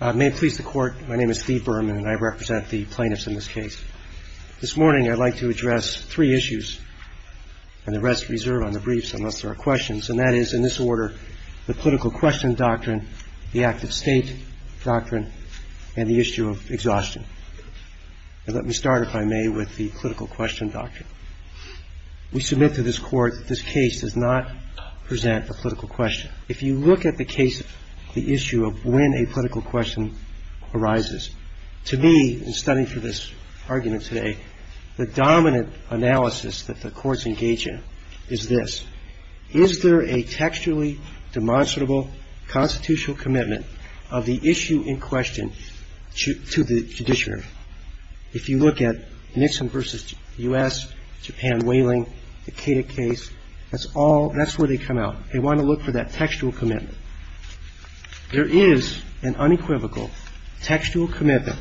May it please the Court, my name is Steve Berman and I represent the plaintiffs in this case. This morning I'd like to address three issues, and the rest reserve on the briefs unless there are questions, and that is, in this order, the political question doctrine, the active state doctrine, and the issue of exhaustion. Let me start, if I may, with the political question doctrine. We submit to this Court that this case does not present a political question. If you look at the case, the issue of when a political question arises, to me, in studying for this argument today, the dominant analysis that the courts engage in is this. Is there a textually demonstrable constitutional commitment of the issue in question to the judiciary? If you look at Nixon v. U.S., Japan whaling, the Keita case, that's all, that's where they come out. They want to look for that textual commitment. There is an unequivocal textual commitment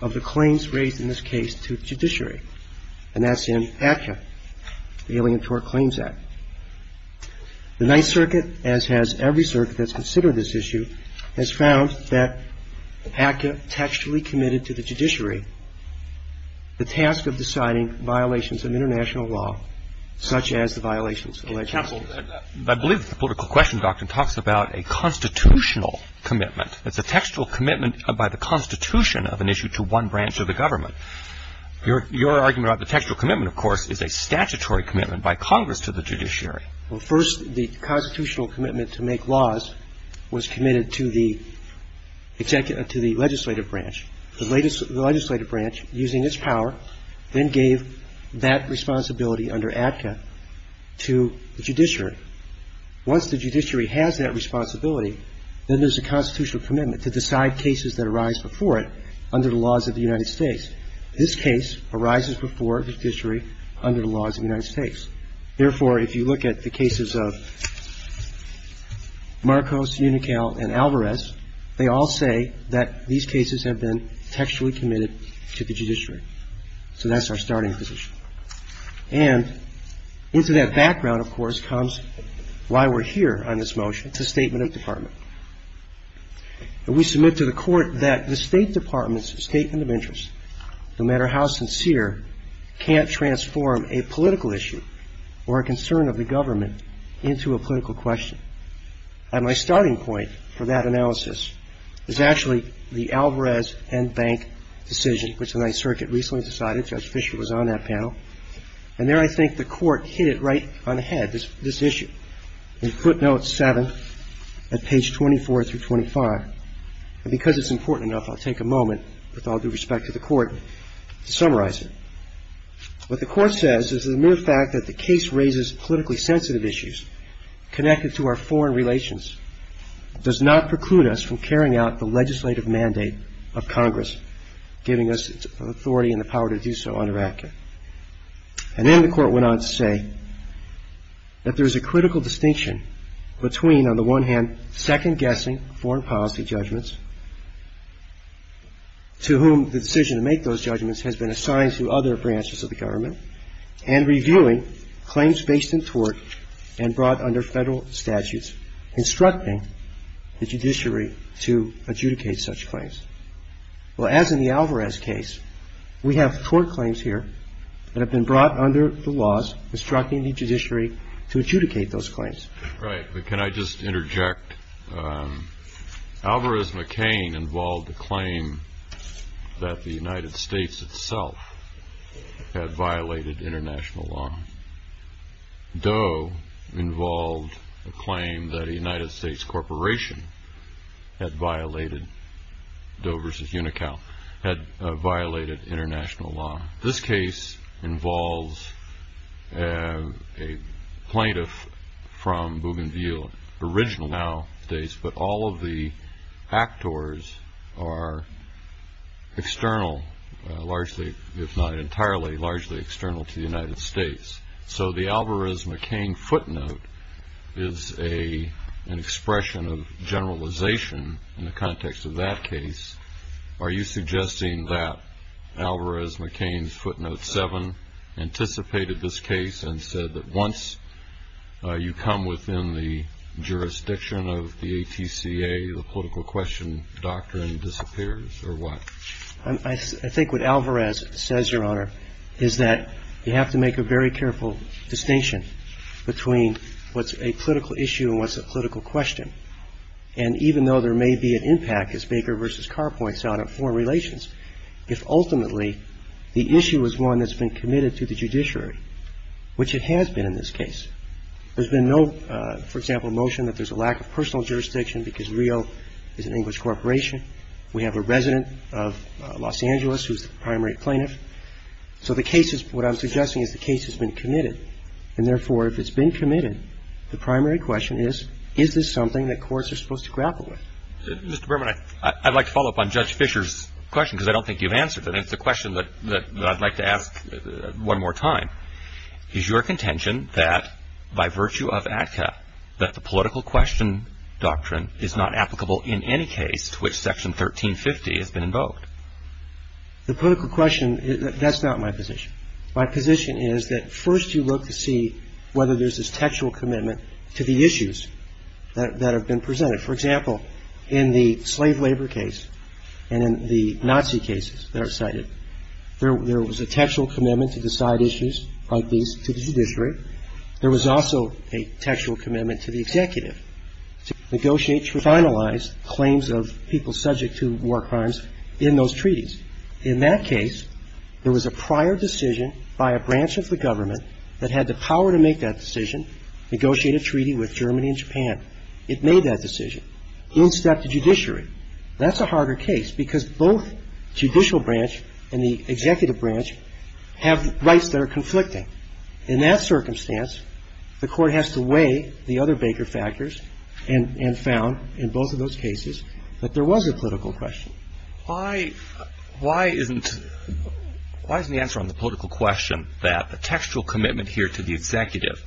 of the claims raised in this case to the judiciary, and that's in ACCA, the Alien Tort Claims Act. The Ninth Circuit, as has every circuit that's considered this issue, has found that ACCA textually committed to the judiciary the task of deciding violations of international law, such as the violations alleged. And I believe the political question doctrine talks about a constitutional commitment. It's a textual commitment by the Constitution of an issue to one branch of the government. Your argument about the textual commitment, of course, is a statutory commitment by Congress to the judiciary. Well, first, the constitutional commitment to make laws was committed to the legislative branch. The legislative branch, using its power, then gave that responsibility under ACCA to the judiciary. Once the judiciary has that responsibility, then there's a constitutional commitment to decide cases that arise before it under the laws of the United States. This case arises before the judiciary under the laws of the United States. Therefore, if you look at the cases of Marcos, Unical, and Alvarez, they all say that these cases have been textually committed to the judiciary. So that's our starting position. And into that background, of course, comes why we're here on this motion. It's a statement of department. And we submit to the Court that the State Department's statement of interest, no matter how sincere, can't transform a political issue or a concern of the government into a political question. And my starting point for that analysis is actually the Alvarez and Bank decision, which the Ninth Circuit recently decided. Judge Fischer was on that panel. And there I think the Court hit it right on the head, this issue. In footnote 7 at page 24 through 25, and because it's important enough, I'll take a moment, with all due respect to the Court, to summarize it. What the Court says is that the mere fact that the case raises politically sensitive issues connected to our foreign relations does not preclude us from carrying out the legislative mandate of Congress, giving us authority and the power to do so under ACCA. And then the Court went on to say that there is a critical distinction between, on the one hand, second-guessing foreign policy judgments, to whom the decision to make those judgments has been assigned through other branches of the government, and reviewing claims based in tort and brought under Federal statutes, instructing the judiciary to adjudicate such claims. Well, as in the Alvarez case, we have tort claims here that have been brought under the laws instructing the judiciary to adjudicate those claims. Right. But can I just interject? Alvarez-McCain involved a claim that the United States itself had violated international law. Doe involved a claim that a United States corporation had violated, Doe v. Unocal, had violated international law. This case involves a plaintiff from Bougainville, original now states, but all of the actors are external, largely, if not entirely, largely external to the United States. So the Alvarez-McCain footnote is an expression of generalization in the context of that case. Are you suggesting that Alvarez-McCain's footnote 7 anticipated this case and said that once you come within the jurisdiction of the ATCA, the political question doctrine disappears, or what? I think what Alvarez says, Your Honor, is that you have to make a very careful distinction between what's a political issue and what's a political question. And even though there may be an impact, as Baker v. Carr points out, on foreign relations, if ultimately the issue is one that's been committed to the judiciary, which it has been in this case, there's been no, for example, motion that there's a lack of personal jurisdiction because Rio is an English corporation. We have a resident of Los Angeles who's the primary plaintiff. So the case is what I'm suggesting is the case has been committed. And therefore, if it's been committed, the primary question is, is this something that courts are supposed to grapple with? Mr. Berman, I'd like to follow up on Judge Fischer's question because I don't think you've answered it. It's a question that I'd like to ask one more time. Is your contention that by virtue of ATCA that the political question doctrine is not applicable in any case to which Section 1350 has been invoked? The political question, that's not my position. My position is that first you look to see whether there's this textual commitment to the issues that have been presented. For example, in the slave labor case and in the Nazi cases that are cited, there was a textual commitment to decide issues like these to the judiciary. There was also a textual commitment to the executive to negotiate, to finalize claims of people subject to war crimes in those treaties. In that case, there was a prior decision by a branch of the government that had the power to make that decision, negotiate a treaty with Germany and Japan. It made that decision in step to judiciary. That's a harder case because both judicial branch and the executive branch have rights that are conflicting. In that circumstance, the Court has to weigh the other Baker factors and found in both of those cases that there was a political question. Why isn't the answer on the political question that the textual commitment here to the executive,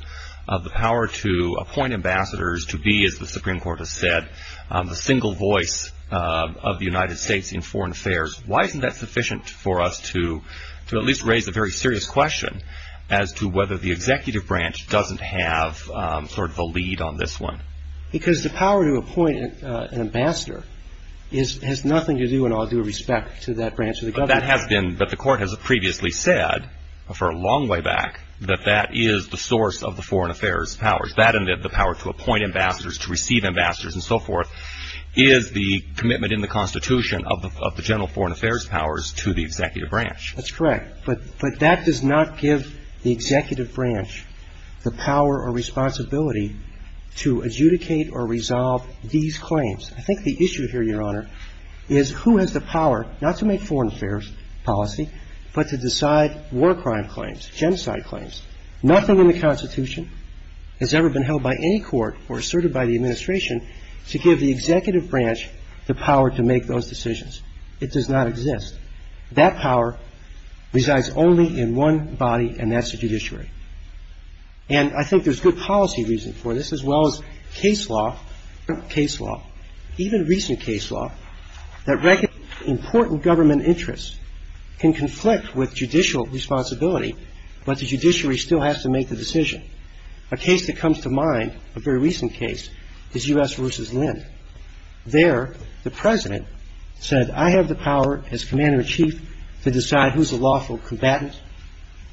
of the power to appoint ambassadors to be, as the Supreme Court has said, the single voice of the United States in foreign affairs, why isn't that sufficient for us to at least raise a very serious question as to whether the executive branch doesn't have sort of a lead on this one? Because the power to appoint an ambassador has nothing to do in all due respect to that branch of the government. But that has been, but the Court has previously said, for a long way back, that that is the source of the foreign affairs powers. That and the power to appoint ambassadors, to receive ambassadors and so forth, is the commitment in the Constitution of the general foreign affairs powers to the executive branch. That's correct. But that does not give the executive branch the power or responsibility to adjudicate or resolve these claims. I think the issue here, Your Honor, is who has the power not to make foreign affairs policy, but to decide war crime claims, genocide claims. Nothing in the Constitution has ever been held by any court or asserted by the administration to give the executive branch the power to make those decisions. It does not exist. That power resides only in one body, and that's the judiciary. And I think there's good policy reason for this, as well as case law, even recent case law, that recognizes important government interests can conflict with judicial responsibility, but the judiciary still has to make the decision. A case that comes to mind, a very recent case, is U.S. v. Lynn. There, the President said, I have the power as Commander-in-Chief to decide who's a lawful combatant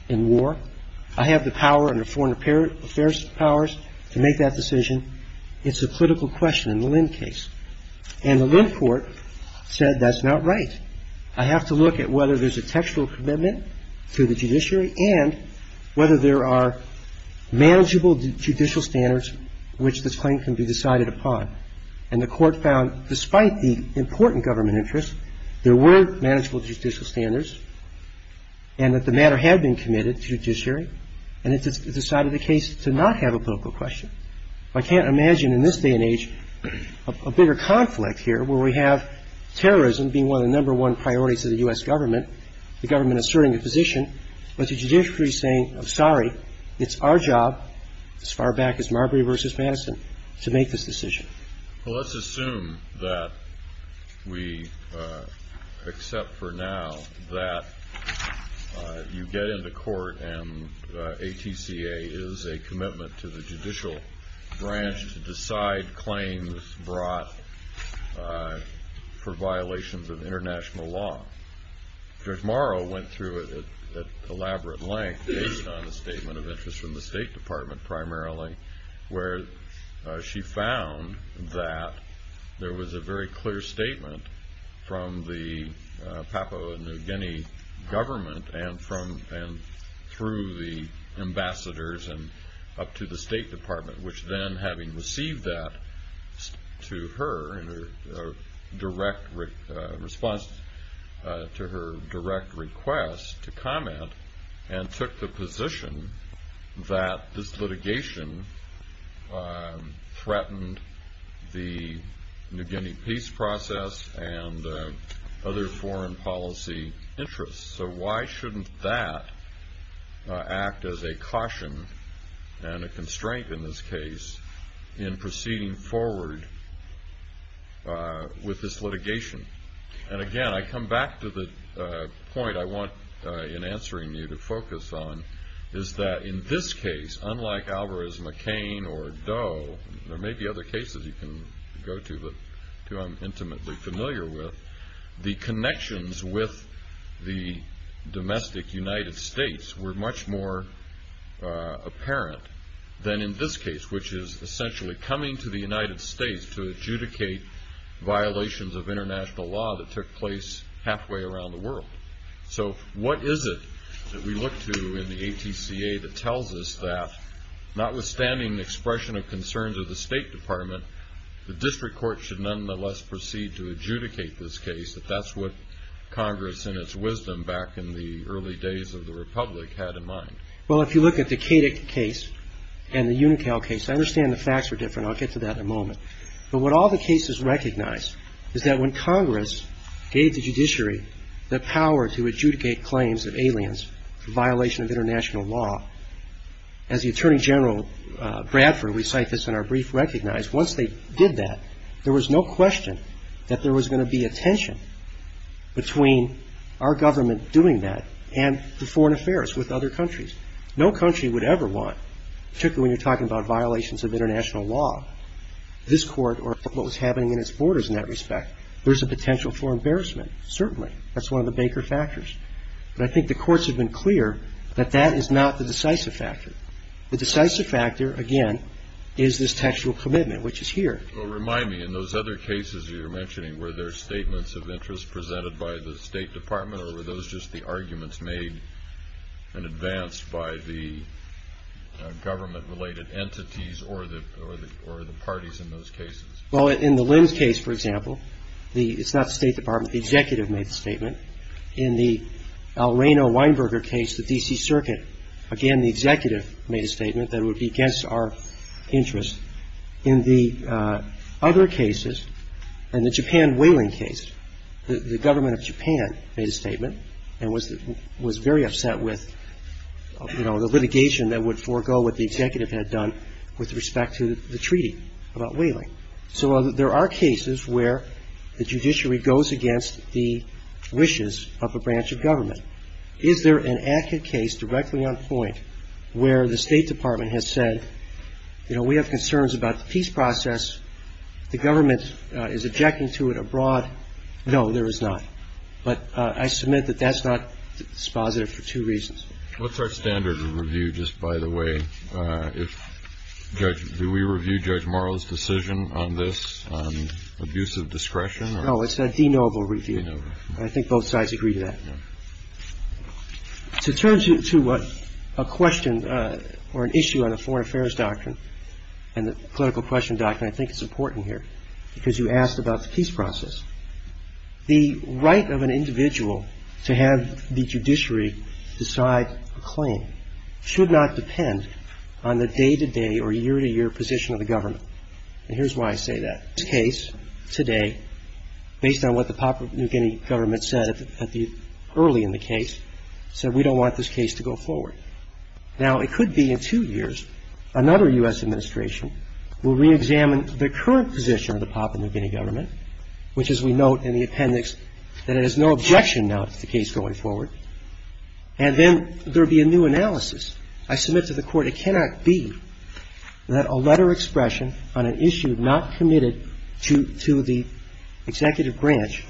in war. I have the power under foreign affairs powers to make that decision. It's a political question in the Lynn case. And the Lynn court said that's not right. I have to look at whether there's a textual commitment to the judiciary and whether there are manageable judicial standards which this claim can be decided upon. And the court found despite the important government interests, there were manageable judicial standards and that the matter had been committed to judiciary, and it decided the case to not have a political question. I can't imagine in this day and age a bigger conflict here where we have terrorism being one of the number one priorities of the U.S. government, the government asserting a position, but the judiciary saying, I'm sorry, it's our job, as far back as Marbury v. Madison, to make this decision. Well, let's assume that we accept for now that you get into court and ATCA is a commitment to the judicial branch to decide claims brought for violations of international law. Judge Morrow went through it at elaborate length, based on a statement of interest from the State Department primarily, where she found that there was a very clear statement from the Papua New Guinea government and through the ambassadors and up to the State Department, which then having received that to her in response to her direct request to comment, and took the position that this litigation threatened the New Guinea peace process and other foreign policy interests. So why shouldn't that act as a caution and a constraint in this case in proceeding forward with this litigation? And again, I come back to the point I want in answering you to focus on, is that in this case, unlike Alvarez-McCain or Doe, there may be other cases you can go to that I'm intimately familiar with, the connections with the domestic United States were much more apparent than in this case, which is essentially coming to the United States to adjudicate violations of international law that took place halfway around the world. So what is it that we look to in the ATCA that tells us that, notwithstanding the expression of concerns of the State Department, the district court should nonetheless proceed to adjudicate this case, if that's what Congress in its wisdom back in the early days of the Republic had in mind? Well, if you look at the Kadick case and the Unital case, I understand the facts are different. I'll get to that in a moment. But what all the cases recognize is that when Congress gave the judiciary the power to adjudicate claims of aliens for violation of international law, as the Attorney General Bradford, we cite this in our brief, recognized once they did that, there was no question that there was going to be a tension between our government doing that and the foreign affairs with other countries. No country would ever want, particularly when you're talking about violations of international law, this court or what was happening in its borders in that respect, there's a potential for embarrassment, certainly. That's one of the Baker factors. But I think the courts have been clear that that is not the decisive factor. The decisive factor, again, is this textual commitment, which is here. Well, remind me. In those other cases you're mentioning, were there statements of interest presented by the State Department or were those just the arguments made in advance by the government-related entities or the parties in those cases? Well, in the Linds case, for example, it's not the State Department. The executive made the statement. In the Al Rehno-Weinberger case, the D.C. Circuit, again, the executive made a statement that it would be against our interests. In the other cases, in the Japan whaling case, the government of Japan made a statement and was very upset with, you know, the litigation that would forego what the executive had done with respect to the treaty about whaling. So there are cases where the judiciary goes against the wishes of a branch of government. Is there an ACCA case directly on point where the State Department has said, you know, we have concerns about the peace process, the government is objecting to it abroad? No, there is not. But I submit that that's not dispositive for two reasons. What's our standard of review, just by the way? Do we review Judge Morrow's decision on this, on abuse of discretion? No, it's a de novo review. De novo. I think both sides agree to that. To turn to a question or an issue on the foreign affairs doctrine and the political question doctrine, I think it's important here because you asked about the peace process. The right of an individual to have the judiciary decide a claim should not depend on the day-to-day or year-to-year position of the government. And here's why I say that. The case today, based on what the Papua New Guinea government said early in the case, said we don't want this case to go forward. Now, it could be in two years another U.S. administration will reexamine the current position of the Papua New Guinea government, which, as we note in the appendix, that it has no objection now to the case going forward, and then there will be a new analysis. I submit to the Court it cannot be that a letter expression on an issue not committed to the executive branch,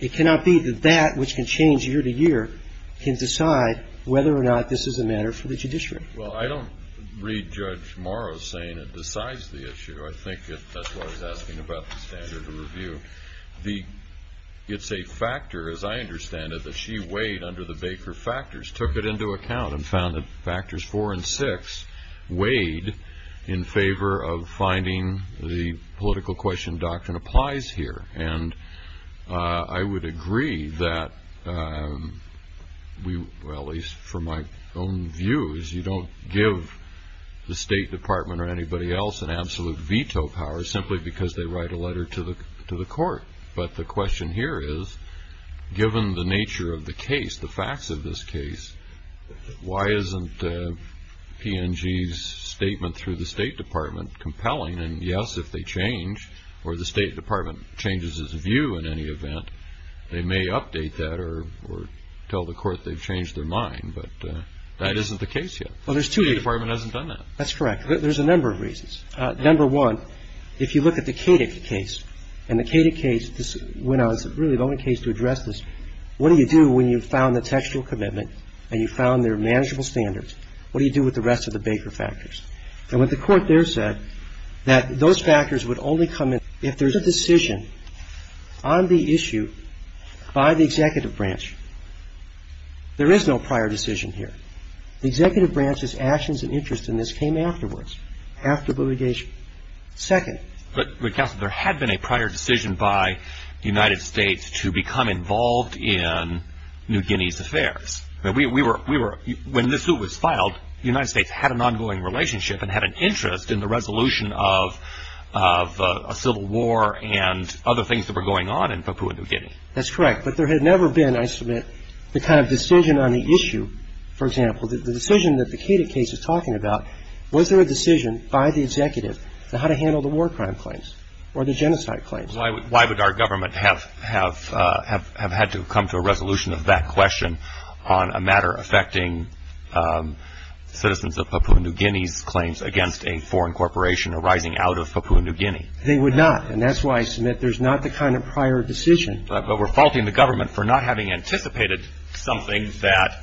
it cannot be that that, which can change year-to-year, can decide whether or not this is a matter for the judiciary. Well, I don't read Judge Morrow saying it decides the issue. I think that's why I was asking about the standard of review. It's a factor, as I understand it, that she weighed under the Baker factors, took it into account and found that factors four and six weighed in favor of finding the political question doctrine applies here. And I would agree that we, well, at least from my own views, you don't give the State Department or anybody else an absolute veto power simply because they write a letter to the Why isn't P&G's statement through the State Department compelling? And, yes, if they change or the State Department changes its view in any event, they may update that or tell the Court they've changed their mind. But that isn't the case yet. The State Department hasn't done that. That's correct. There's a number of reasons. Number one, if you look at the Kadick case, and the Kadick case, when I was really the only case to address this, what do you do when you've found the textual commitment and you've found there are manageable standards? What do you do with the rest of the Baker factors? And what the Court there said, that those factors would only come in if there's a decision on the issue by the executive branch. There is no prior decision here. The executive branch's actions and interest in this came afterwards, after litigation. Second. But, Counsel, there had been a prior decision by the United States to become involved in New Guinea's affairs. We were, when this suit was filed, the United States had an ongoing relationship and had an interest in the resolution of a civil war and other things that were going on in Papua New Guinea. That's correct. But there had never been, I submit, the kind of decision on the issue, for example, the decision that the Kadick case is talking about, was there a decision by the executive on how to handle the war crime claims or the genocide claims? Why would our government have had to come to a resolution of that question on a matter affecting citizens of Papua New Guinea's claims against a foreign corporation arising out of Papua New Guinea? They would not. And that's why I submit there's not the kind of prior decision. But we're faulting the government for not having anticipated something that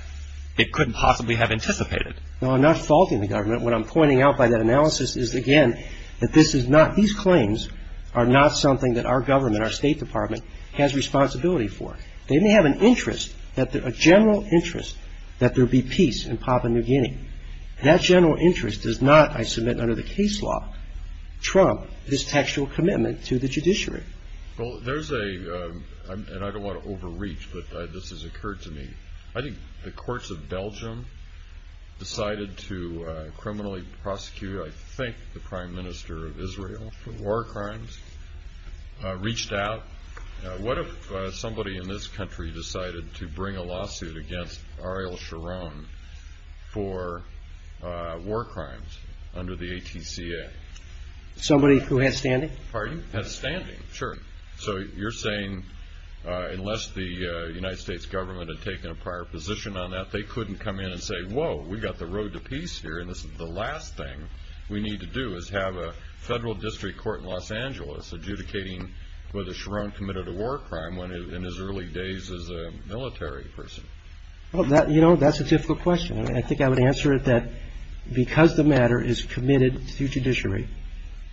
it couldn't possibly have anticipated. No, I'm not faulting the government. What I'm pointing out by that analysis is, again, that this is not, these claims are not something that our government, our State Department, has responsibility for. They may have an interest, a general interest, that there be peace in Papua New Guinea. That general interest does not, I submit, under the case law, trump this textual commitment to the judiciary. Well, there's a, and I don't want to overreach, but this has occurred to me, I think the courts of Belgium decided to criminally prosecute, I think, the Prime Minister of Israel for war crimes, reached out. What if somebody in this country decided to bring a lawsuit against Ariel Sharon for war crimes under the ATCA? Somebody who has standing? Pardon? Has standing, sure. So you're saying unless the United States government had taken a prior position on that, they couldn't come in and say, whoa, we've got the road to peace here, and this is the last thing we need to do is have a federal district court in Los Angeles adjudicating whether Sharon committed a war crime in his early days as a military person. You know, that's a difficult question. I think I would answer it that because the matter is committed through judiciary,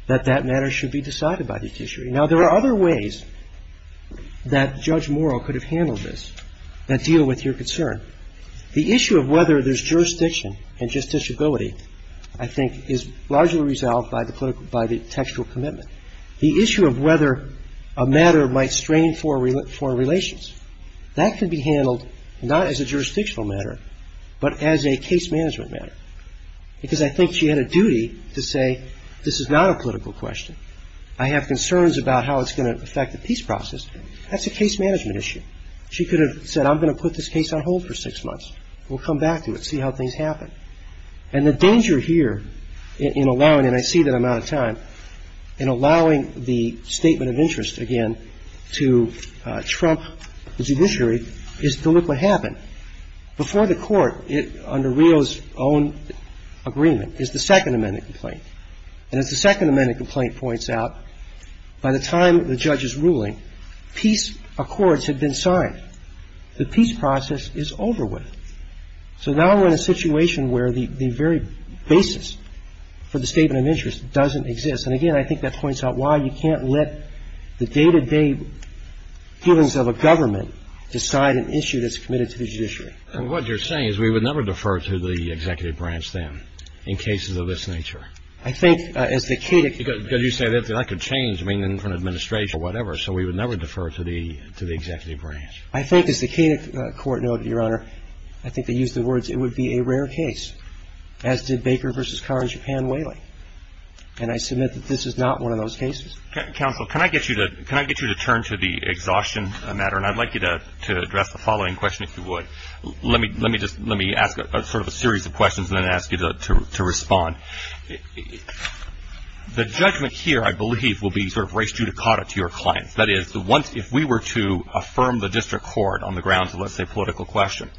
that that matter should be decided by the judiciary. Now, there are other ways that Judge Morrow could have handled this that deal with your concern. The issue of whether there's jurisdiction and justiciability, I think, is largely resolved by the textual commitment. The issue of whether a matter might strain foreign relations, that could be handled not as a jurisdictional matter, but as a case management matter, because I think she had a duty to say, this is not a political question. I have concerns about how it's going to affect the peace process. That's a case management issue. She could have said, I'm going to put this case on hold for six months. We'll come back to it, see how things happen. And the danger here in allowing, and I see that I'm out of time, in allowing the statement of interest, again, to trump the judiciary is to look what happened. Before the Court, under Rio's own agreement, is the Second Amendment complaint. And as the Second Amendment complaint points out, by the time the judge is ruling, peace accords have been signed. The peace process is over with. So now we're in a situation where the very basis for the statement of interest doesn't exist. And, again, I think that points out why you can't let the day-to-day dealings of a government decide an issue that's committed to the judiciary. And what you're saying is we would never defer to the executive branch then in cases of this nature. I think, as the Kedick ---- Because you say that could change, I mean, in front of administration or whatever. So we would never defer to the executive branch. I think, as the Kedick Court noted, Your Honor, I think they used the words, it would be a rare case, as did Baker v. Carr and Japan Whaley. And I submit that this is not one of those cases. Counsel, can I get you to turn to the exhaustion matter? And I'd like you to address the following question, if you would. Let me ask sort of a series of questions and then ask you to respond. The judgment here, I believe, will be sort of res judicata to your clients. That is, if we were to affirm the district court on the grounds of, let's say, a political question,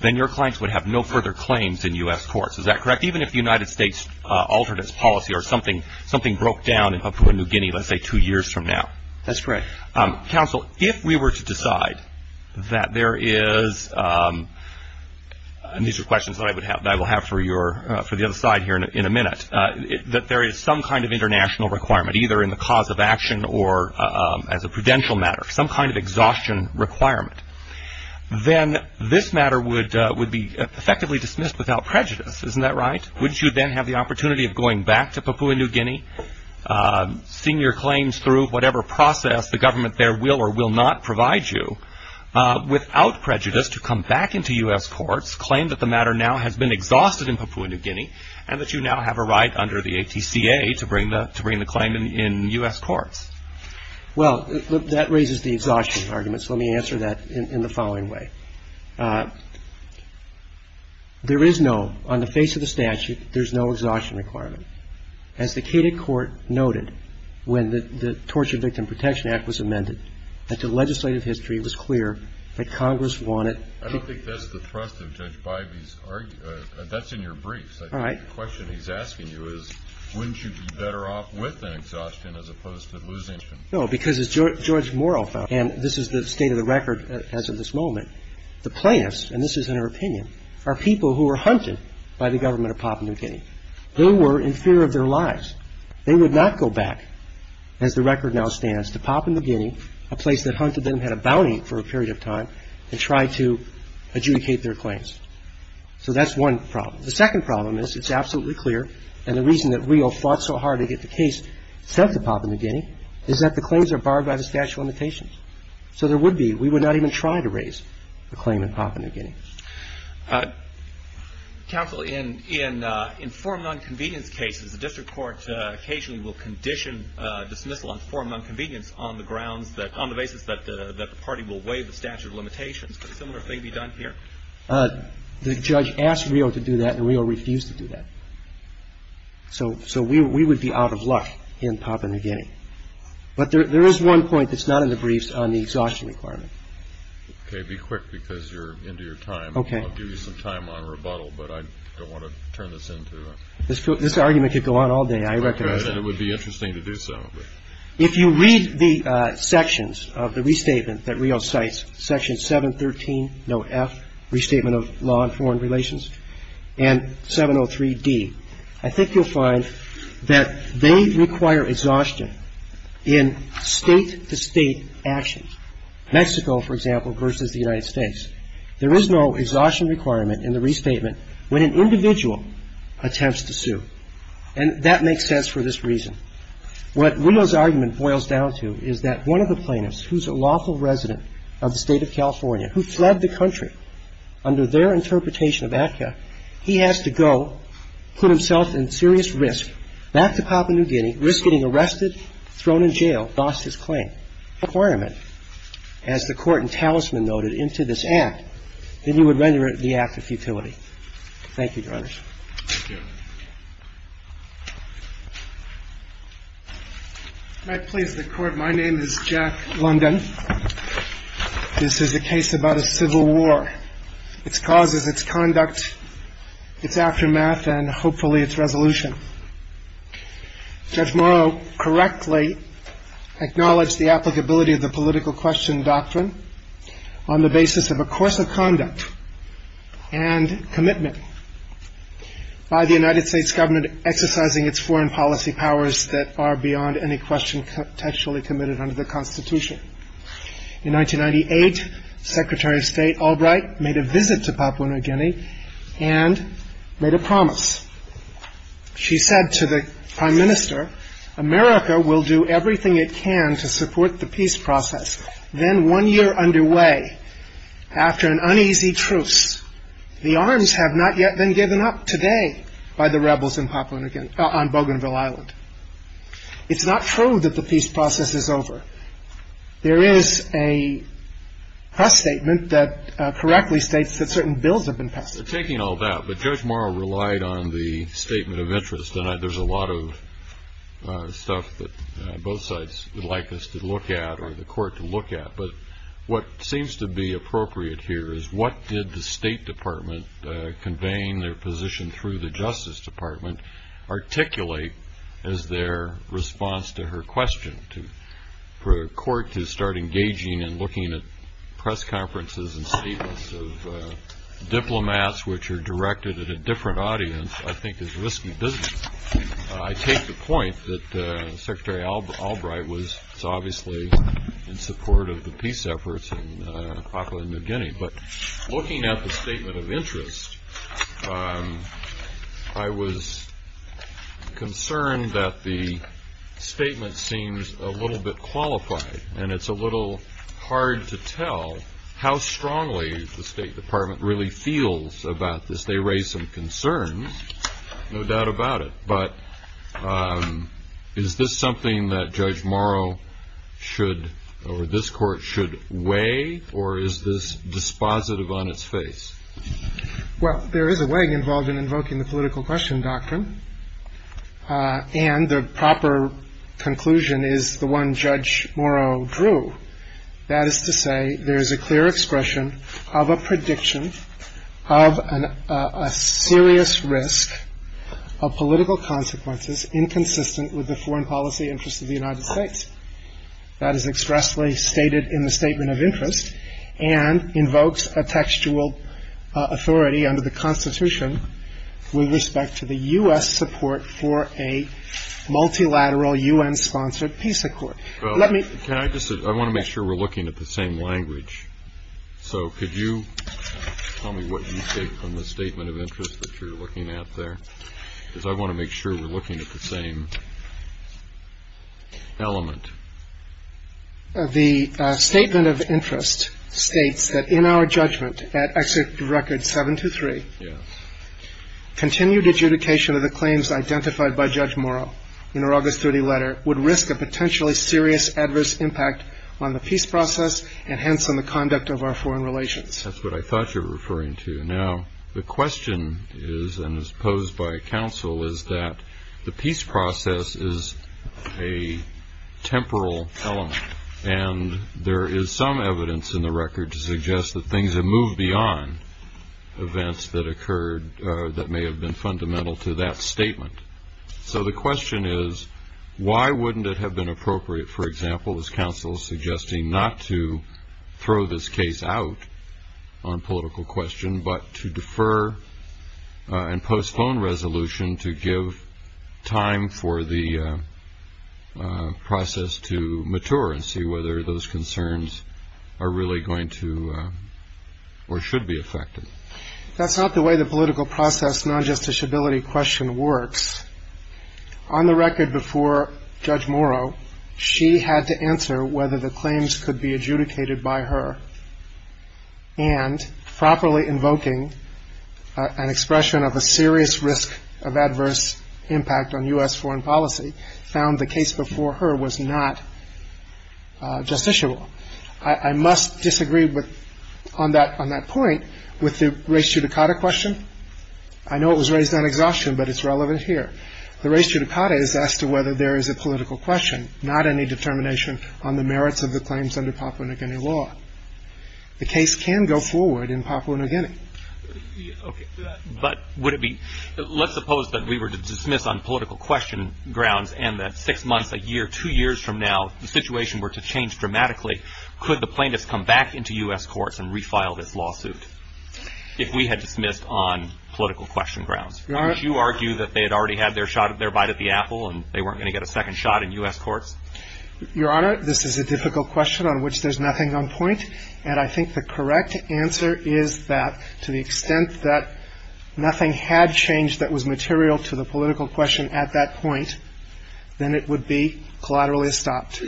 then your clients would have no further claims in U.S. courts. Is that correct? Even if the United States altered its policy or something broke down in Papua New Guinea, let's say, two years from now. That's correct. Counsel, if we were to decide that there is, and these are questions that I will have for the other side here in a minute, that there is some kind of international requirement, either in the cause of action or as a prudential matter, some kind of exhaustion requirement, then this matter would be effectively dismissed without prejudice. Isn't that right? Wouldn't you then have the opportunity of going back to Papua New Guinea, seeing your claims through whatever process the government there will or will not provide you, without prejudice to come back into U.S. courts, claim that the matter now has been exhausted in Papua New Guinea, and that you now have a right under the ATCA to bring the claim in U.S. courts? Well, that raises the exhaustion argument, so let me answer that in the following way. There is no, on the face of the statute, there's no exhaustion requirement. As the Cated Court noted when the Torture Victim Protection Act was amended, that the legislative history was clear that Congress wanted to I don't think that's the thrust of Judge Bybee's argument. That's in your briefs. All right. I think the question he's asking you is wouldn't you be better off with an exhaustion as opposed to losing an exhaustion? No, because as George Morrell found out, and this is the state of the record as of this moment, the plaintiffs, and this is in her opinion, are people who were hunted by the government of Papua New Guinea. They were in fear of their lives. They would not go back, as the record now stands, to Papua New Guinea, a place that hunted them, had a bounty for a period of time, and try to adjudicate their claims. So that's one problem. The second problem is it's absolutely clear, and the reason that Rio fought so hard to get the case sent to Papua New Guinea is that the claims are barred by the statute of limitations. So there would be, we would not even try to raise the claim in Papua New Guinea. Counsel, in informed nonconvenience cases, the district court occasionally will condition dismissal on informed nonconvenience on the basis that the party will waive the statute of limitations. Could a similar thing be done here? The judge asked Rio to do that, and Rio refused to do that. So we would be out of luck in Papua New Guinea. But there is one point that's not in the briefs on the exhaustion requirement. Okay, be quick, because you're into your time. Okay. I'll give you some time on rebuttal, but I don't want to turn this into a... This argument could go on all day, I recognize that. Okay, and it would be interesting to do so. If you read the sections of the restatement that Rio cites, Section 713, Note F, Restatement of Law and Foreign Relations, and 703D, I think you'll find that they require exhaustion in state-to-state actions. Mexico, for example, versus the United States. There is no exhaustion requirement in the restatement when an individual attempts to sue, and that makes sense for this reason. What Rio's argument boils down to is that one of the plaintiffs, who's a lawful resident of the State of California, who fled the country under their interpretation of ACCA, he has to go put himself in serious risk back to Papua New Guinea, risk getting arrested, thrown in jail, lost his claim. And if he doesn't have that requirement, as the Court in Talisman noted, into this act, then he would render it the act of futility. Thank you, Your Honors. Thank you. If I may please the Court, my name is Jack London. This is a case about a civil war, its causes, its conduct, its aftermath, and hopefully its resolution. Judge Morrow correctly acknowledged the applicability of the political question doctrine on the basis of a course of conduct and commitment by the United States government exercising its foreign policy powers that are beyond any question contextually committed under the Constitution. In 1998, Secretary of State Albright made a visit to Papua New Guinea and made a promise. She said to the Prime Minister, America will do everything it can to support the peace process. Then one year underway, after an uneasy truce, the arms have not yet been given up today by the rebels in Papua New Guinea, on Bougainville Island. It's not true that the peace process is over. There is a press statement that correctly states that certain bills have been passed. Taking all that, but Judge Morrow relied on the statement of interest, and there's a lot of stuff that both sides would like us to look at or the Court to look at. But what seems to be appropriate here is what did the State Department, conveying their position through the Justice Department, articulate as their response to her question for the Court to start engaging in looking at press conferences and statements of diplomats, which are directed at a different audience, I think is risky business. I take the point that Secretary Albright was obviously in support of the peace efforts in Papua New Guinea. But looking at the statement of interest, I was concerned that the statement seems a little bit qualified, and it's a little hard to tell how strongly the State Department really feels about this. They raise some concerns, no doubt about it, but is this something that Judge Morrow should or this Court should weigh, or is this dispositive on its face? Well, there is a weigh involved in invoking the political question doctrine, and the proper conclusion is the one Judge Morrow drew. That is to say there is a clear expression of a prediction of a serious risk of political consequences inconsistent with the foreign policy interests of the United States. That is expressly stated in the statement of interest and invokes a textual authority under the Constitution with respect to the U.S. support for a multilateral U.N.-sponsored peace accord. Well, can I just say, I want to make sure we're looking at the same language. So could you tell me what you take from the statement of interest that you're looking at there? Because I want to make sure we're looking at the same element. The statement of interest states that in our judgment at Executive Record 723, continued adjudication of the claims identified by Judge Morrow in our August 30 letter would risk a potentially serious adverse impact on the peace process and hence on the conduct of our foreign relations. That's what I thought you were referring to. Now the question is and is posed by counsel is that the peace process is a temporal element and there is some evidence in the record to suggest that things have moved beyond events that occurred that may have been fundamental to that statement. So the question is why wouldn't it have been appropriate, for example, as counsel is suggesting, not to throw this case out on political question, but to defer and postpone resolution to give time for the process to mature and see whether those concerns are really going to or should be affected. That's not the way the political process non-justiciability question works. On the record before Judge Morrow, she had to answer whether the claims could be adjudicated by her and properly invoking an expression of a serious risk of adverse impact on U.S. foreign policy found the case before her was not justiciable. I must disagree on that point with the res judicata question. I know it was raised on exhaustion, but it's relevant here. The res judicata is as to whether there is a political question, not any determination on the merits of the claims under Papua New Guinea law. The case can go forward in Papua New Guinea. Okay. But would it be, let's suppose that we were to dismiss on political question grounds and that six months, a year, two years from now, the situation were to change dramatically, could the plaintiffs come back into U.S. courts and refile this lawsuit? If we had dismissed on political question grounds. Would you argue that they had already had their shot, their bite at the apple and they weren't going to get a second shot in U.S. courts? Your Honor, this is a difficult question on which there's nothing on point. And I think the correct answer is that to the extent that nothing had changed that was material to the political question at that point, then it would be collaterally stopped.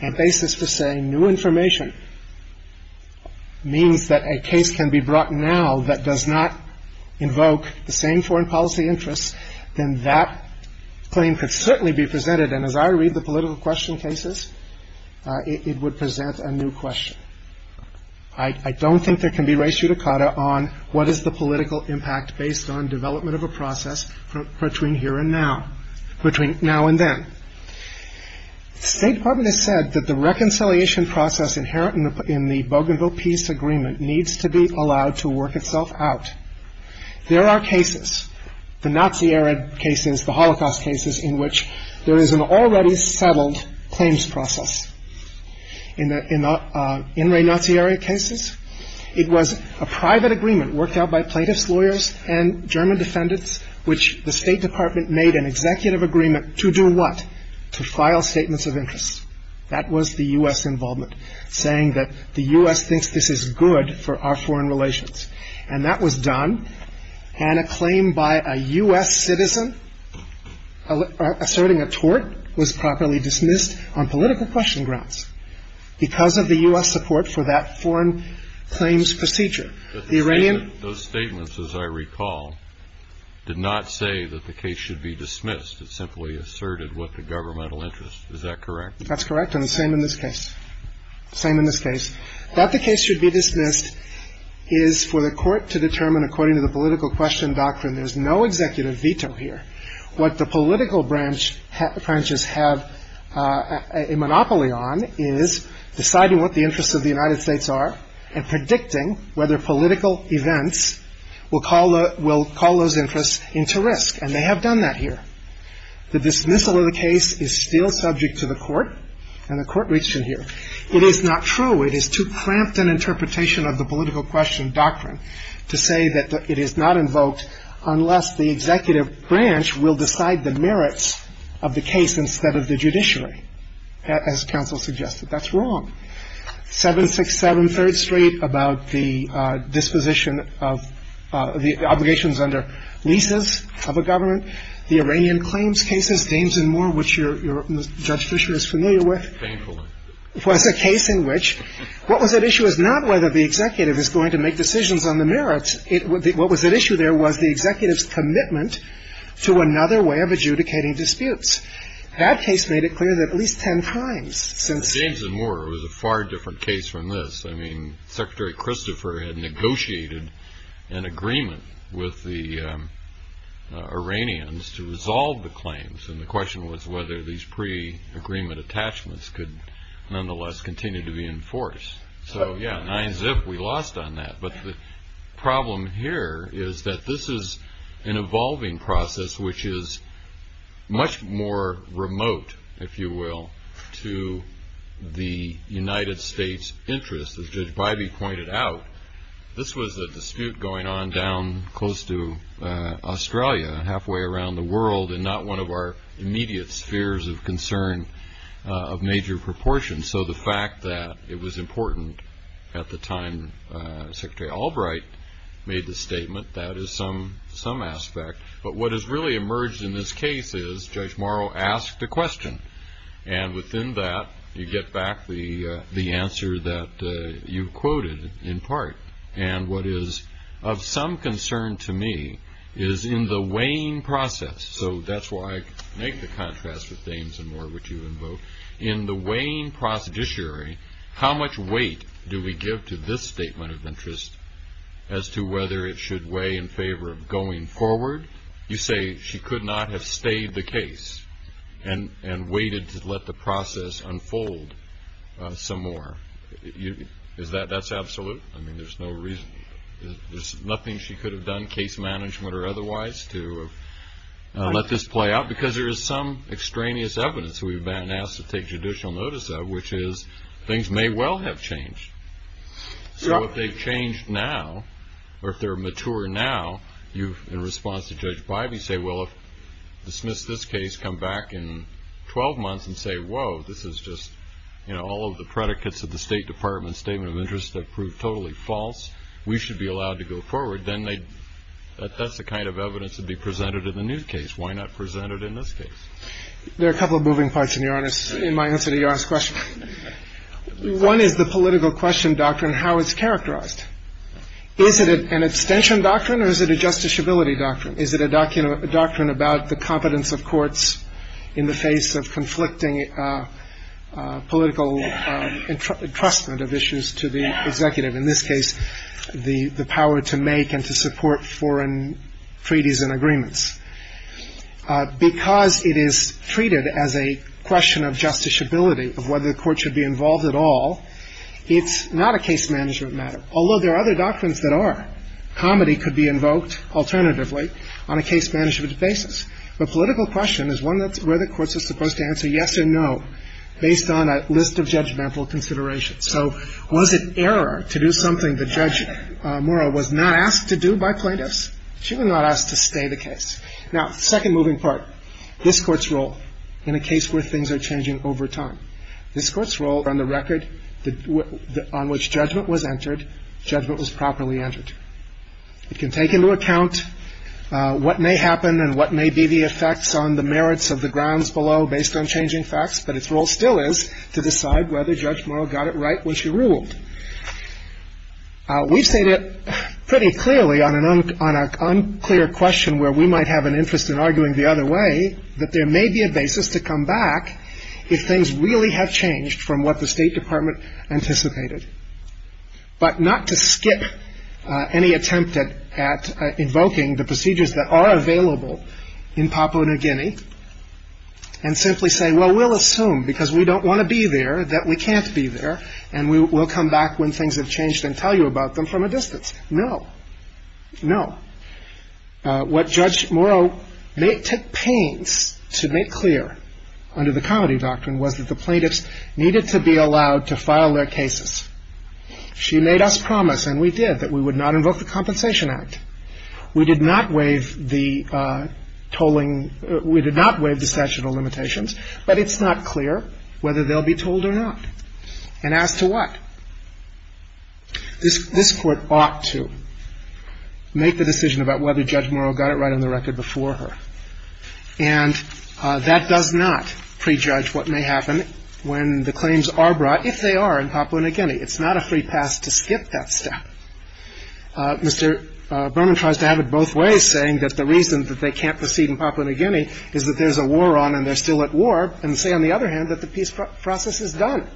And basis for saying new information means that a case can be brought now that does not invoke the same foreign policy interests, then that claim could certainly be presented. And as I read the political question cases, it would present a new question. I don't think there can be ratio decata on what is the political impact based on development of a process between here and now, between now and then. State Department has said that the reconciliation process inherent in the Bougainville Peace Agreement needs to be allowed to work itself out. There are cases, the Nazi era cases, the Holocaust cases, in which there is an already settled claims process. In the In re Nazi era cases, it was a private agreement worked out by plaintiff's lawyers and German defendants which the State Department made an executive agreement to do what? To file statements of interest. That was the U.S. involvement, saying that the U.S. thinks this is good for our foreign relations. And that was done. And a claim by a U.S. citizen asserting a tort was properly dismissed on political question grounds because of the U.S. support for that foreign claims procedure. The Iranian — Those statements, as I recall, did not say that the case should be dismissed. It simply asserted what the governmental interest. Is that correct? That's correct, and the same in this case. Same in this case. That the case should be dismissed is for the court to determine, according to the political question doctrine, there's no executive veto here. What the political branches have a monopoly on is deciding what the interests of the United States are and predicting whether political events will call those interests into risk. And they have done that here. The dismissal of the case is still subject to the court, and the court reached it here. It is not true. It is too cramped an interpretation of the political question doctrine to say that it is not invoked unless the executive branch will decide the merits of the case instead of the judiciary, as counsel suggested. That's wrong. 767 Third Street about the disposition of the obligations under leases of a government, the Iranian claims cases, James and Moore, which Judge Fisher is familiar with. Painfully. It was a case in which what was at issue was not whether the executive is going to make decisions on the merits. What was at issue there was the executive's commitment to another way of adjudicating disputes. That case made it clear that at least ten times since. James and Moore was a far different case from this. I mean, Secretary Christopher had negotiated an agreement with the Iranians to resolve the claims, and the question was whether these pre-agreement attachments could nonetheless continue to be enforced. So, yeah, nigh as if we lost on that. But the problem here is that this is an evolving process, which is much more remote, if you will, to the United States interests. As Judge Bybee pointed out, this was a dispute going on down close to Australia, halfway around the world, and not one of our immediate spheres of concern of major proportion. So the fact that it was important at the time Secretary Albright made the statement, that is some aspect. But what has really emerged in this case is Judge Morrow asked a question, and within that you get back the answer that you quoted in part. And what is of some concern to me is in the weighing process, so that's why I make the contrast with James and Moore, which you invoked. In the weighing procedurary, how much weight do we give to this statement of interest as to whether it should weigh in favor of going forward? You say she could not have stayed the case and waited to let the process unfold some more. Is that absolute? I mean, there's no reason. There's nothing she could have done, case management or otherwise, to let this play out, because there is some extraneous evidence we've been asked to take judicial notice of, which is things may well have changed. So if they've changed now, or if they're mature now, you, in response to Judge Bybee, say, well, if you dismiss this case, come back in 12 months and say, whoa, this is just, you know, all of the predicates of the State Department's statement of interest have proved totally false, we should be allowed to go forward. Then that's the kind of evidence that would be presented in the new case. Why not present it in this case? There are a couple of moving parts, Your Honor, in my answer to Your Honor's question. One is the political question doctrine, how it's characterized. Is it an abstention doctrine, or is it a justiciability doctrine? Is it a doctrine about the competence of courts in the face of conflicting political entrustment of issues to the executive? In this case, the power to make and to support foreign treaties and agreements. Because it is treated as a question of justiciability, of whether the court should be involved at all, it's not a case-management matter, although there are other doctrines that are. Comedy could be invoked, alternatively, on a case-management basis. The political question is one that's where the courts are supposed to answer yes or no, based on a list of judgmental considerations. So was it error to do something that Judge Murrow was not asked to do by plaintiffs? She was not asked to stay the case. Now, second moving part, this Court's role in a case where things are changing over time. This Court's role on the record on which judgment was entered, judgment was properly entered. It can take into account what may happen and what may be the effects on the merits of the grounds below, based on changing facts, but its role still is to decide whether Judge Murrow got it right when she ruled. We've stated pretty clearly on an unclear question where we might have an interest in arguing the other way, that there may be a basis to come back if things really have changed from what the State Department anticipated, but not to skip any attempt at invoking the procedures that are available in Papua New Guinea and simply say, well, we'll assume because we don't want to be there that we can't be there and we'll come back when things have changed and tell you about them from a distance. No. No. What Judge Murrow took pains to make clear under the Comedy Doctrine was that the plaintiffs needed to be allowed to file their cases. She made us promise, and we did, that we would not invoke the Compensation Act. We did not waive the statutorial limitations, but it's not clear whether they'll be told or not. And as to what, this Court ought to make the decision about whether Judge Murrow got it right on the record before her. And that does not prejudge what may happen when the claims are brought, if they are, in Papua New Guinea. It's not a free pass to skip that step. Mr. Berman tries to have it both ways, saying that the reason that they can't proceed in Papua New Guinea is that there's a war on and they're still at war, and to say, on the other hand, that the peace process is done.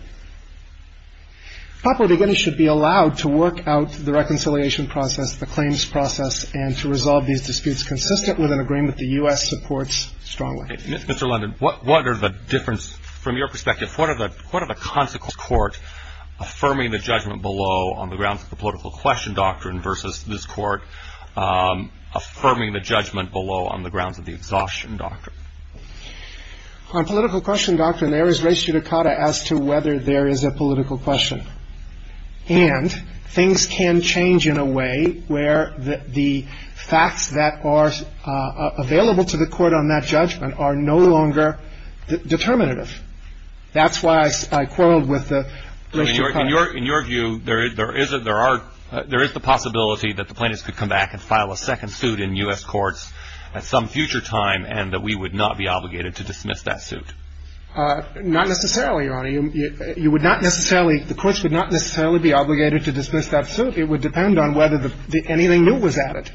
Papua New Guinea should be allowed to work out the reconciliation process, the claims process, and to resolve these disputes consistent with an agreement the U.S. supports strongly. Mr. London, what are the difference, from your perspective, what are the consequences of this Court affirming the judgment below on the grounds of the political question doctrine versus this Court affirming the judgment below on the grounds of the exhaustion doctrine? On political question doctrine, there is res judicata as to whether there is a political question. And things can change in a way where the facts that are available to the Court on that judgment are no longer determinative. That's why I quarreled with the res judicata. In your view, there is the possibility that the plaintiffs could come back and file a second suit in U.S. courts at some future time and that we would not be obligated to dismiss that suit? Not necessarily, Your Honor. The courts would not necessarily be obligated to dismiss that suit. It would depend on whether anything new was added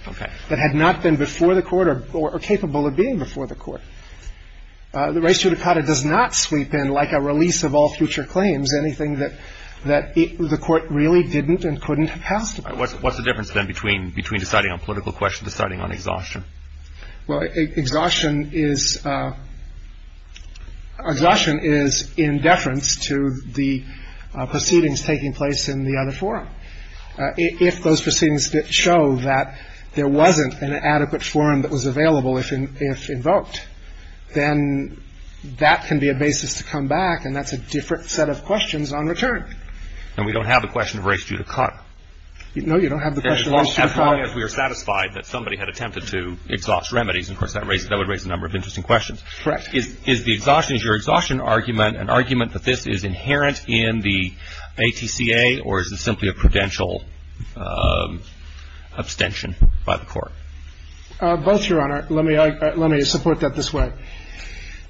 that had not been before the Court or capable of being before the Court. The res judicata does not sweep in like a release of all future claims. Anything that the Court really didn't and couldn't have passed. What's the difference, then, between deciding on political question and deciding on exhaustion? Well, exhaustion is in deference to the proceedings taking place in the other forum. If those proceedings show that there wasn't an adequate forum that was available if invoked, then that can be a basis to come back and that's a different set of questions on return. And we don't have the question of res judicata. No, you don't have the question of res judicata. As long as we are satisfied that somebody had attempted to exhaust remedies. Of course, that would raise a number of interesting questions. Correct. Is the exhaustion, is your exhaustion argument an argument that this is inherent in the ATCA or is it simply a prudential abstention by the Court? Both, Your Honor. Let me support that this way.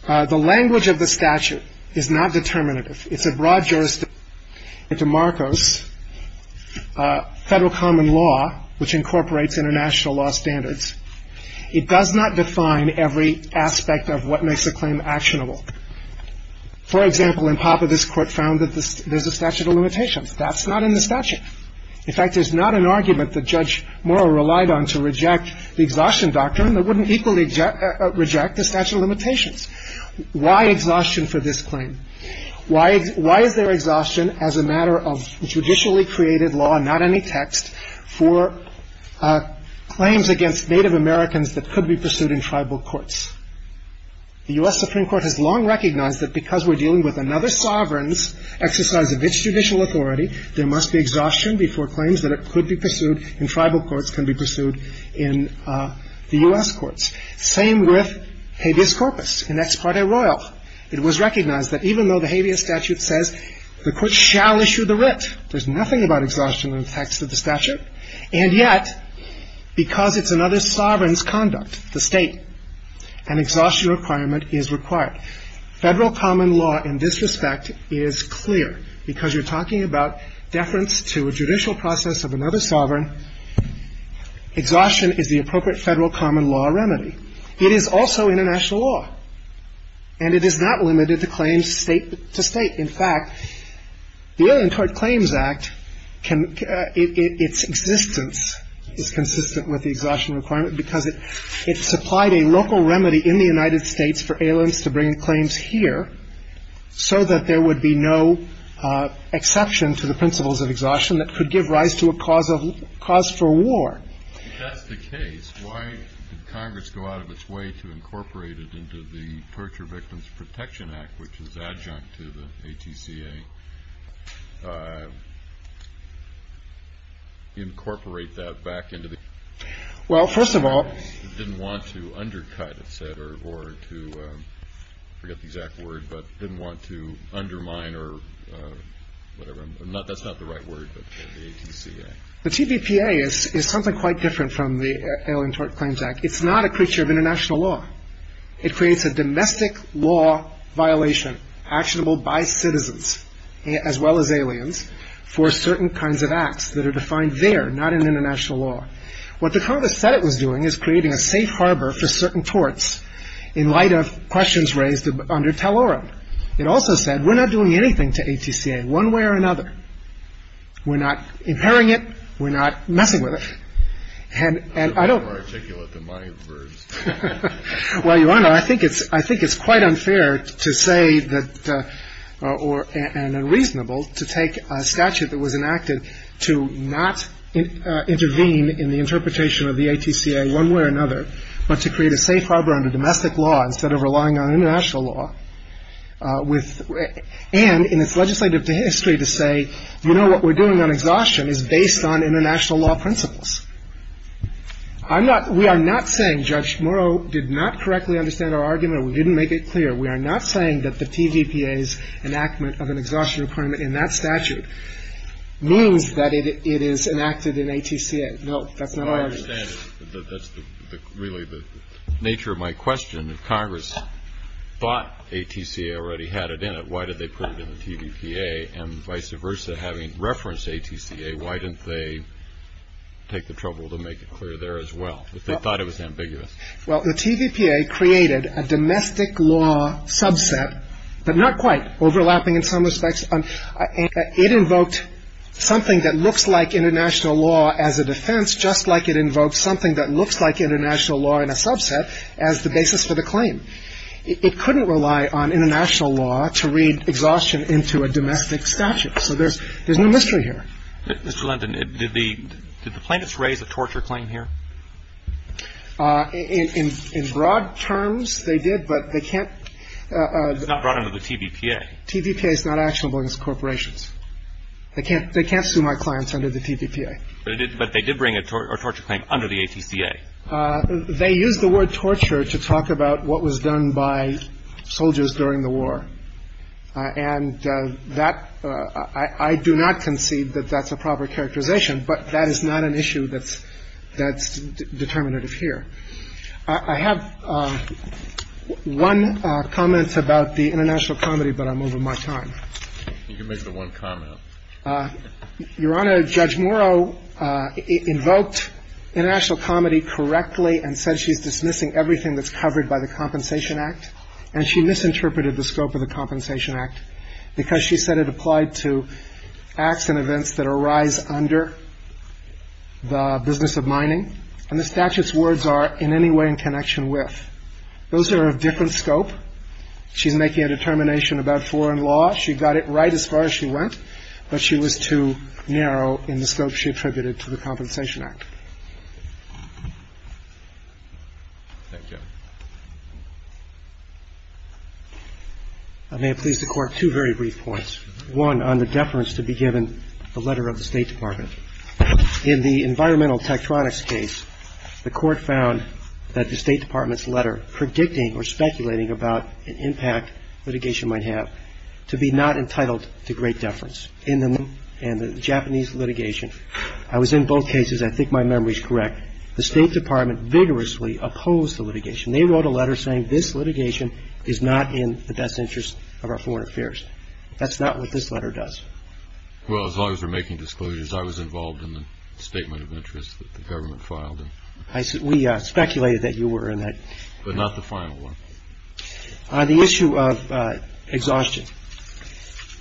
The language of the statute is not determinative. It's a broad jurisdiction. It's a Marcos federal common law which incorporates international law standards. It does not define every aspect of what makes a claim actionable. For example, in Papa, this Court found that there's a statute of limitations. That's not in the statute. In fact, there's not an argument that Judge Morrow relied on to reject the exhaustion doctrine that wouldn't equally reject the statute of limitations. Why exhaustion for this claim? Why is there exhaustion as a matter of judicially created law, not any text, for claims against Native Americans that could be pursued in tribal courts? The U.S. Supreme Court has long recognized that because we're dealing with another sovereign's exercise of its judicial authority, there must be exhaustion before claims that it could be pursued in tribal courts can be pursued in the U.S. courts. Same with habeas corpus in ex parte royal. It was recognized that even though the habeas statute says the Court shall issue the writ, there's nothing about exhaustion in the text of the statute. And yet, because it's another sovereign's conduct, the State, an exhaustion requirement is required. Federal common law in this respect is clear because you're talking about deference to a judicial process of another sovereign. Exhaustion is the appropriate Federal common law remedy. It is also international law, and it is not limited to claims State to State. In fact, the Alien Tort Claims Act, its existence is consistent with the exhaustion requirement because it supplied a local remedy in the United States for aliens to bring claims here so that there would be no exception to the principles of exhaustion that could give rise to a cause for war. If that's the case, why did Congress go out of its way to incorporate it into the Torture Victims Protection Act, which is adjunct to the ATCA, incorporate that back into the? Well, first of all. It didn't want to undercut, it said, or to forget the exact word, but didn't want to undermine or whatever. That's not the right word, but the ATCA. The TVPA is something quite different from the Alien Tort Claims Act. It's not a creature of international law. It creates a domestic law violation actionable by citizens as well as aliens for certain kinds of acts that are defined there, not in international law. What the Congress said it was doing is creating a safe harbor for certain torts in light of questions raised under Taloran. It also said we're not doing anything to ATCA one way or another. We're not impairing it. We're not messing with it. And I don't. It's a little more articulate than my words. Well, Your Honor, I think it's quite unfair to say that or unreasonable to take a statute that was enacted to not intervene in the interpretation of the ATCA one way or another, but to create a safe harbor under domestic law instead of relying on international law with. And it's legislative history to say, you know, what we're doing on exhaustion is based on international law principles. I'm not we are not saying Judge Morrow did not correctly understand our argument. We didn't make it clear. We are not saying that the TVPA's enactment of an exhaustion requirement in that statute means that it is enacted in ATCA. No, that's not our argument. Well, I understand it. That's really the nature of my question. If Congress thought ATCA already had it in it, why did they put it in the TVPA? And vice versa, having referenced ATCA, why didn't they take the trouble to make it clear there as well? They thought it was ambiguous. Well, the TVPA created a domestic law subset, but not quite, overlapping in some respects. It invoked something that looks like international law as a defense, just like it invoked something that looks like international law in a subset as the basis for the claim. It couldn't rely on international law to read exhaustion into a domestic statute. So there's no mystery here. Mr. Lenton, did the plaintiffs raise a torture claim here? In broad terms, they did, but they can't. It's not brought under the TVPA. TVPA is not actionable against corporations. They can't sue my clients under the TVPA. But they did bring a torture claim under the ATCA. They used the word torture to talk about what was done by soldiers during the war. And that – I do not concede that that's a proper characterization, but that is not an issue that's determinative here. I have one comment about the international comedy, but I'm over my time. You can make the one comment. Your Honor, Judge Morrow invoked international comedy correctly and said she's dismissing everything that's covered by the Compensation Act, and she misinterpreted the scope of the Compensation Act because she said it applied to acts and events that arise under the business of mining. And the statute's words are, in any way in connection with. Those are of different scope. She's making a determination about foreign law. She got it right as far as she went, but she was too narrow in the scope she attributed to the Compensation Act. Thank you. I may have pleased the Court two very brief points. One, on the deference to be given the letter of the State Department. In the environmental tectronics case, the Court found that the State Department's letter predicting or speculating about an impact litigation might have to be not entitled to great deference in the Japanese litigation. I was in both cases. I think my memory is correct. The State Department vigorously opposed the litigation. They wrote a letter saying this litigation is not in the best interest of our foreign affairs. That's not what this letter does. Well, as long as we're making disclosures, I was involved in the statement of interest that the government filed. We speculated that you were in that. But not the final one. The issue of exhaustion.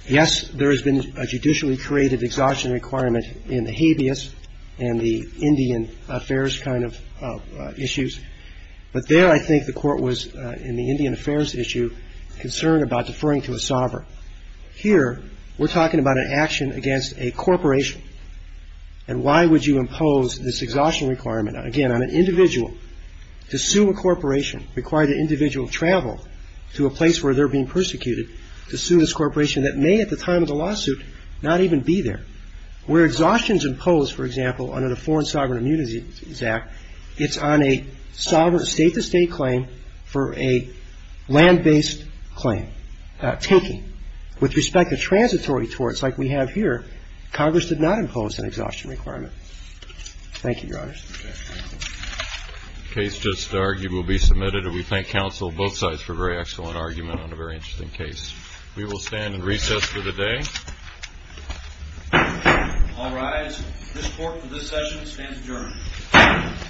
Yes, there has been a judicially creative exhaustion requirement in the habeas and the Indian affairs kind of issues. But there I think the Court was, in the Indian affairs issue, concerned about deferring to a sovereign. Here we're talking about an action against a corporation. And why would you impose this exhaustion requirement? Again, on an individual. To sue a corporation required an individual to travel to a place where they're being persecuted to sue this corporation that may at the time of the lawsuit not even be there. Where exhaustion is imposed, for example, under the Foreign Sovereign Immunities Act, it's on a sovereign state-to-state claim for a land-based claim, taking. With respect to transitory torts like we have here, Congress did not impose an exhaustion requirement. Thank you, Your Honors. The case just argued will be submitted. And we thank counsel on both sides for a very excellent argument on a very interesting case. We will stand in recess for the day. All rise. This Court for this session stands adjourned.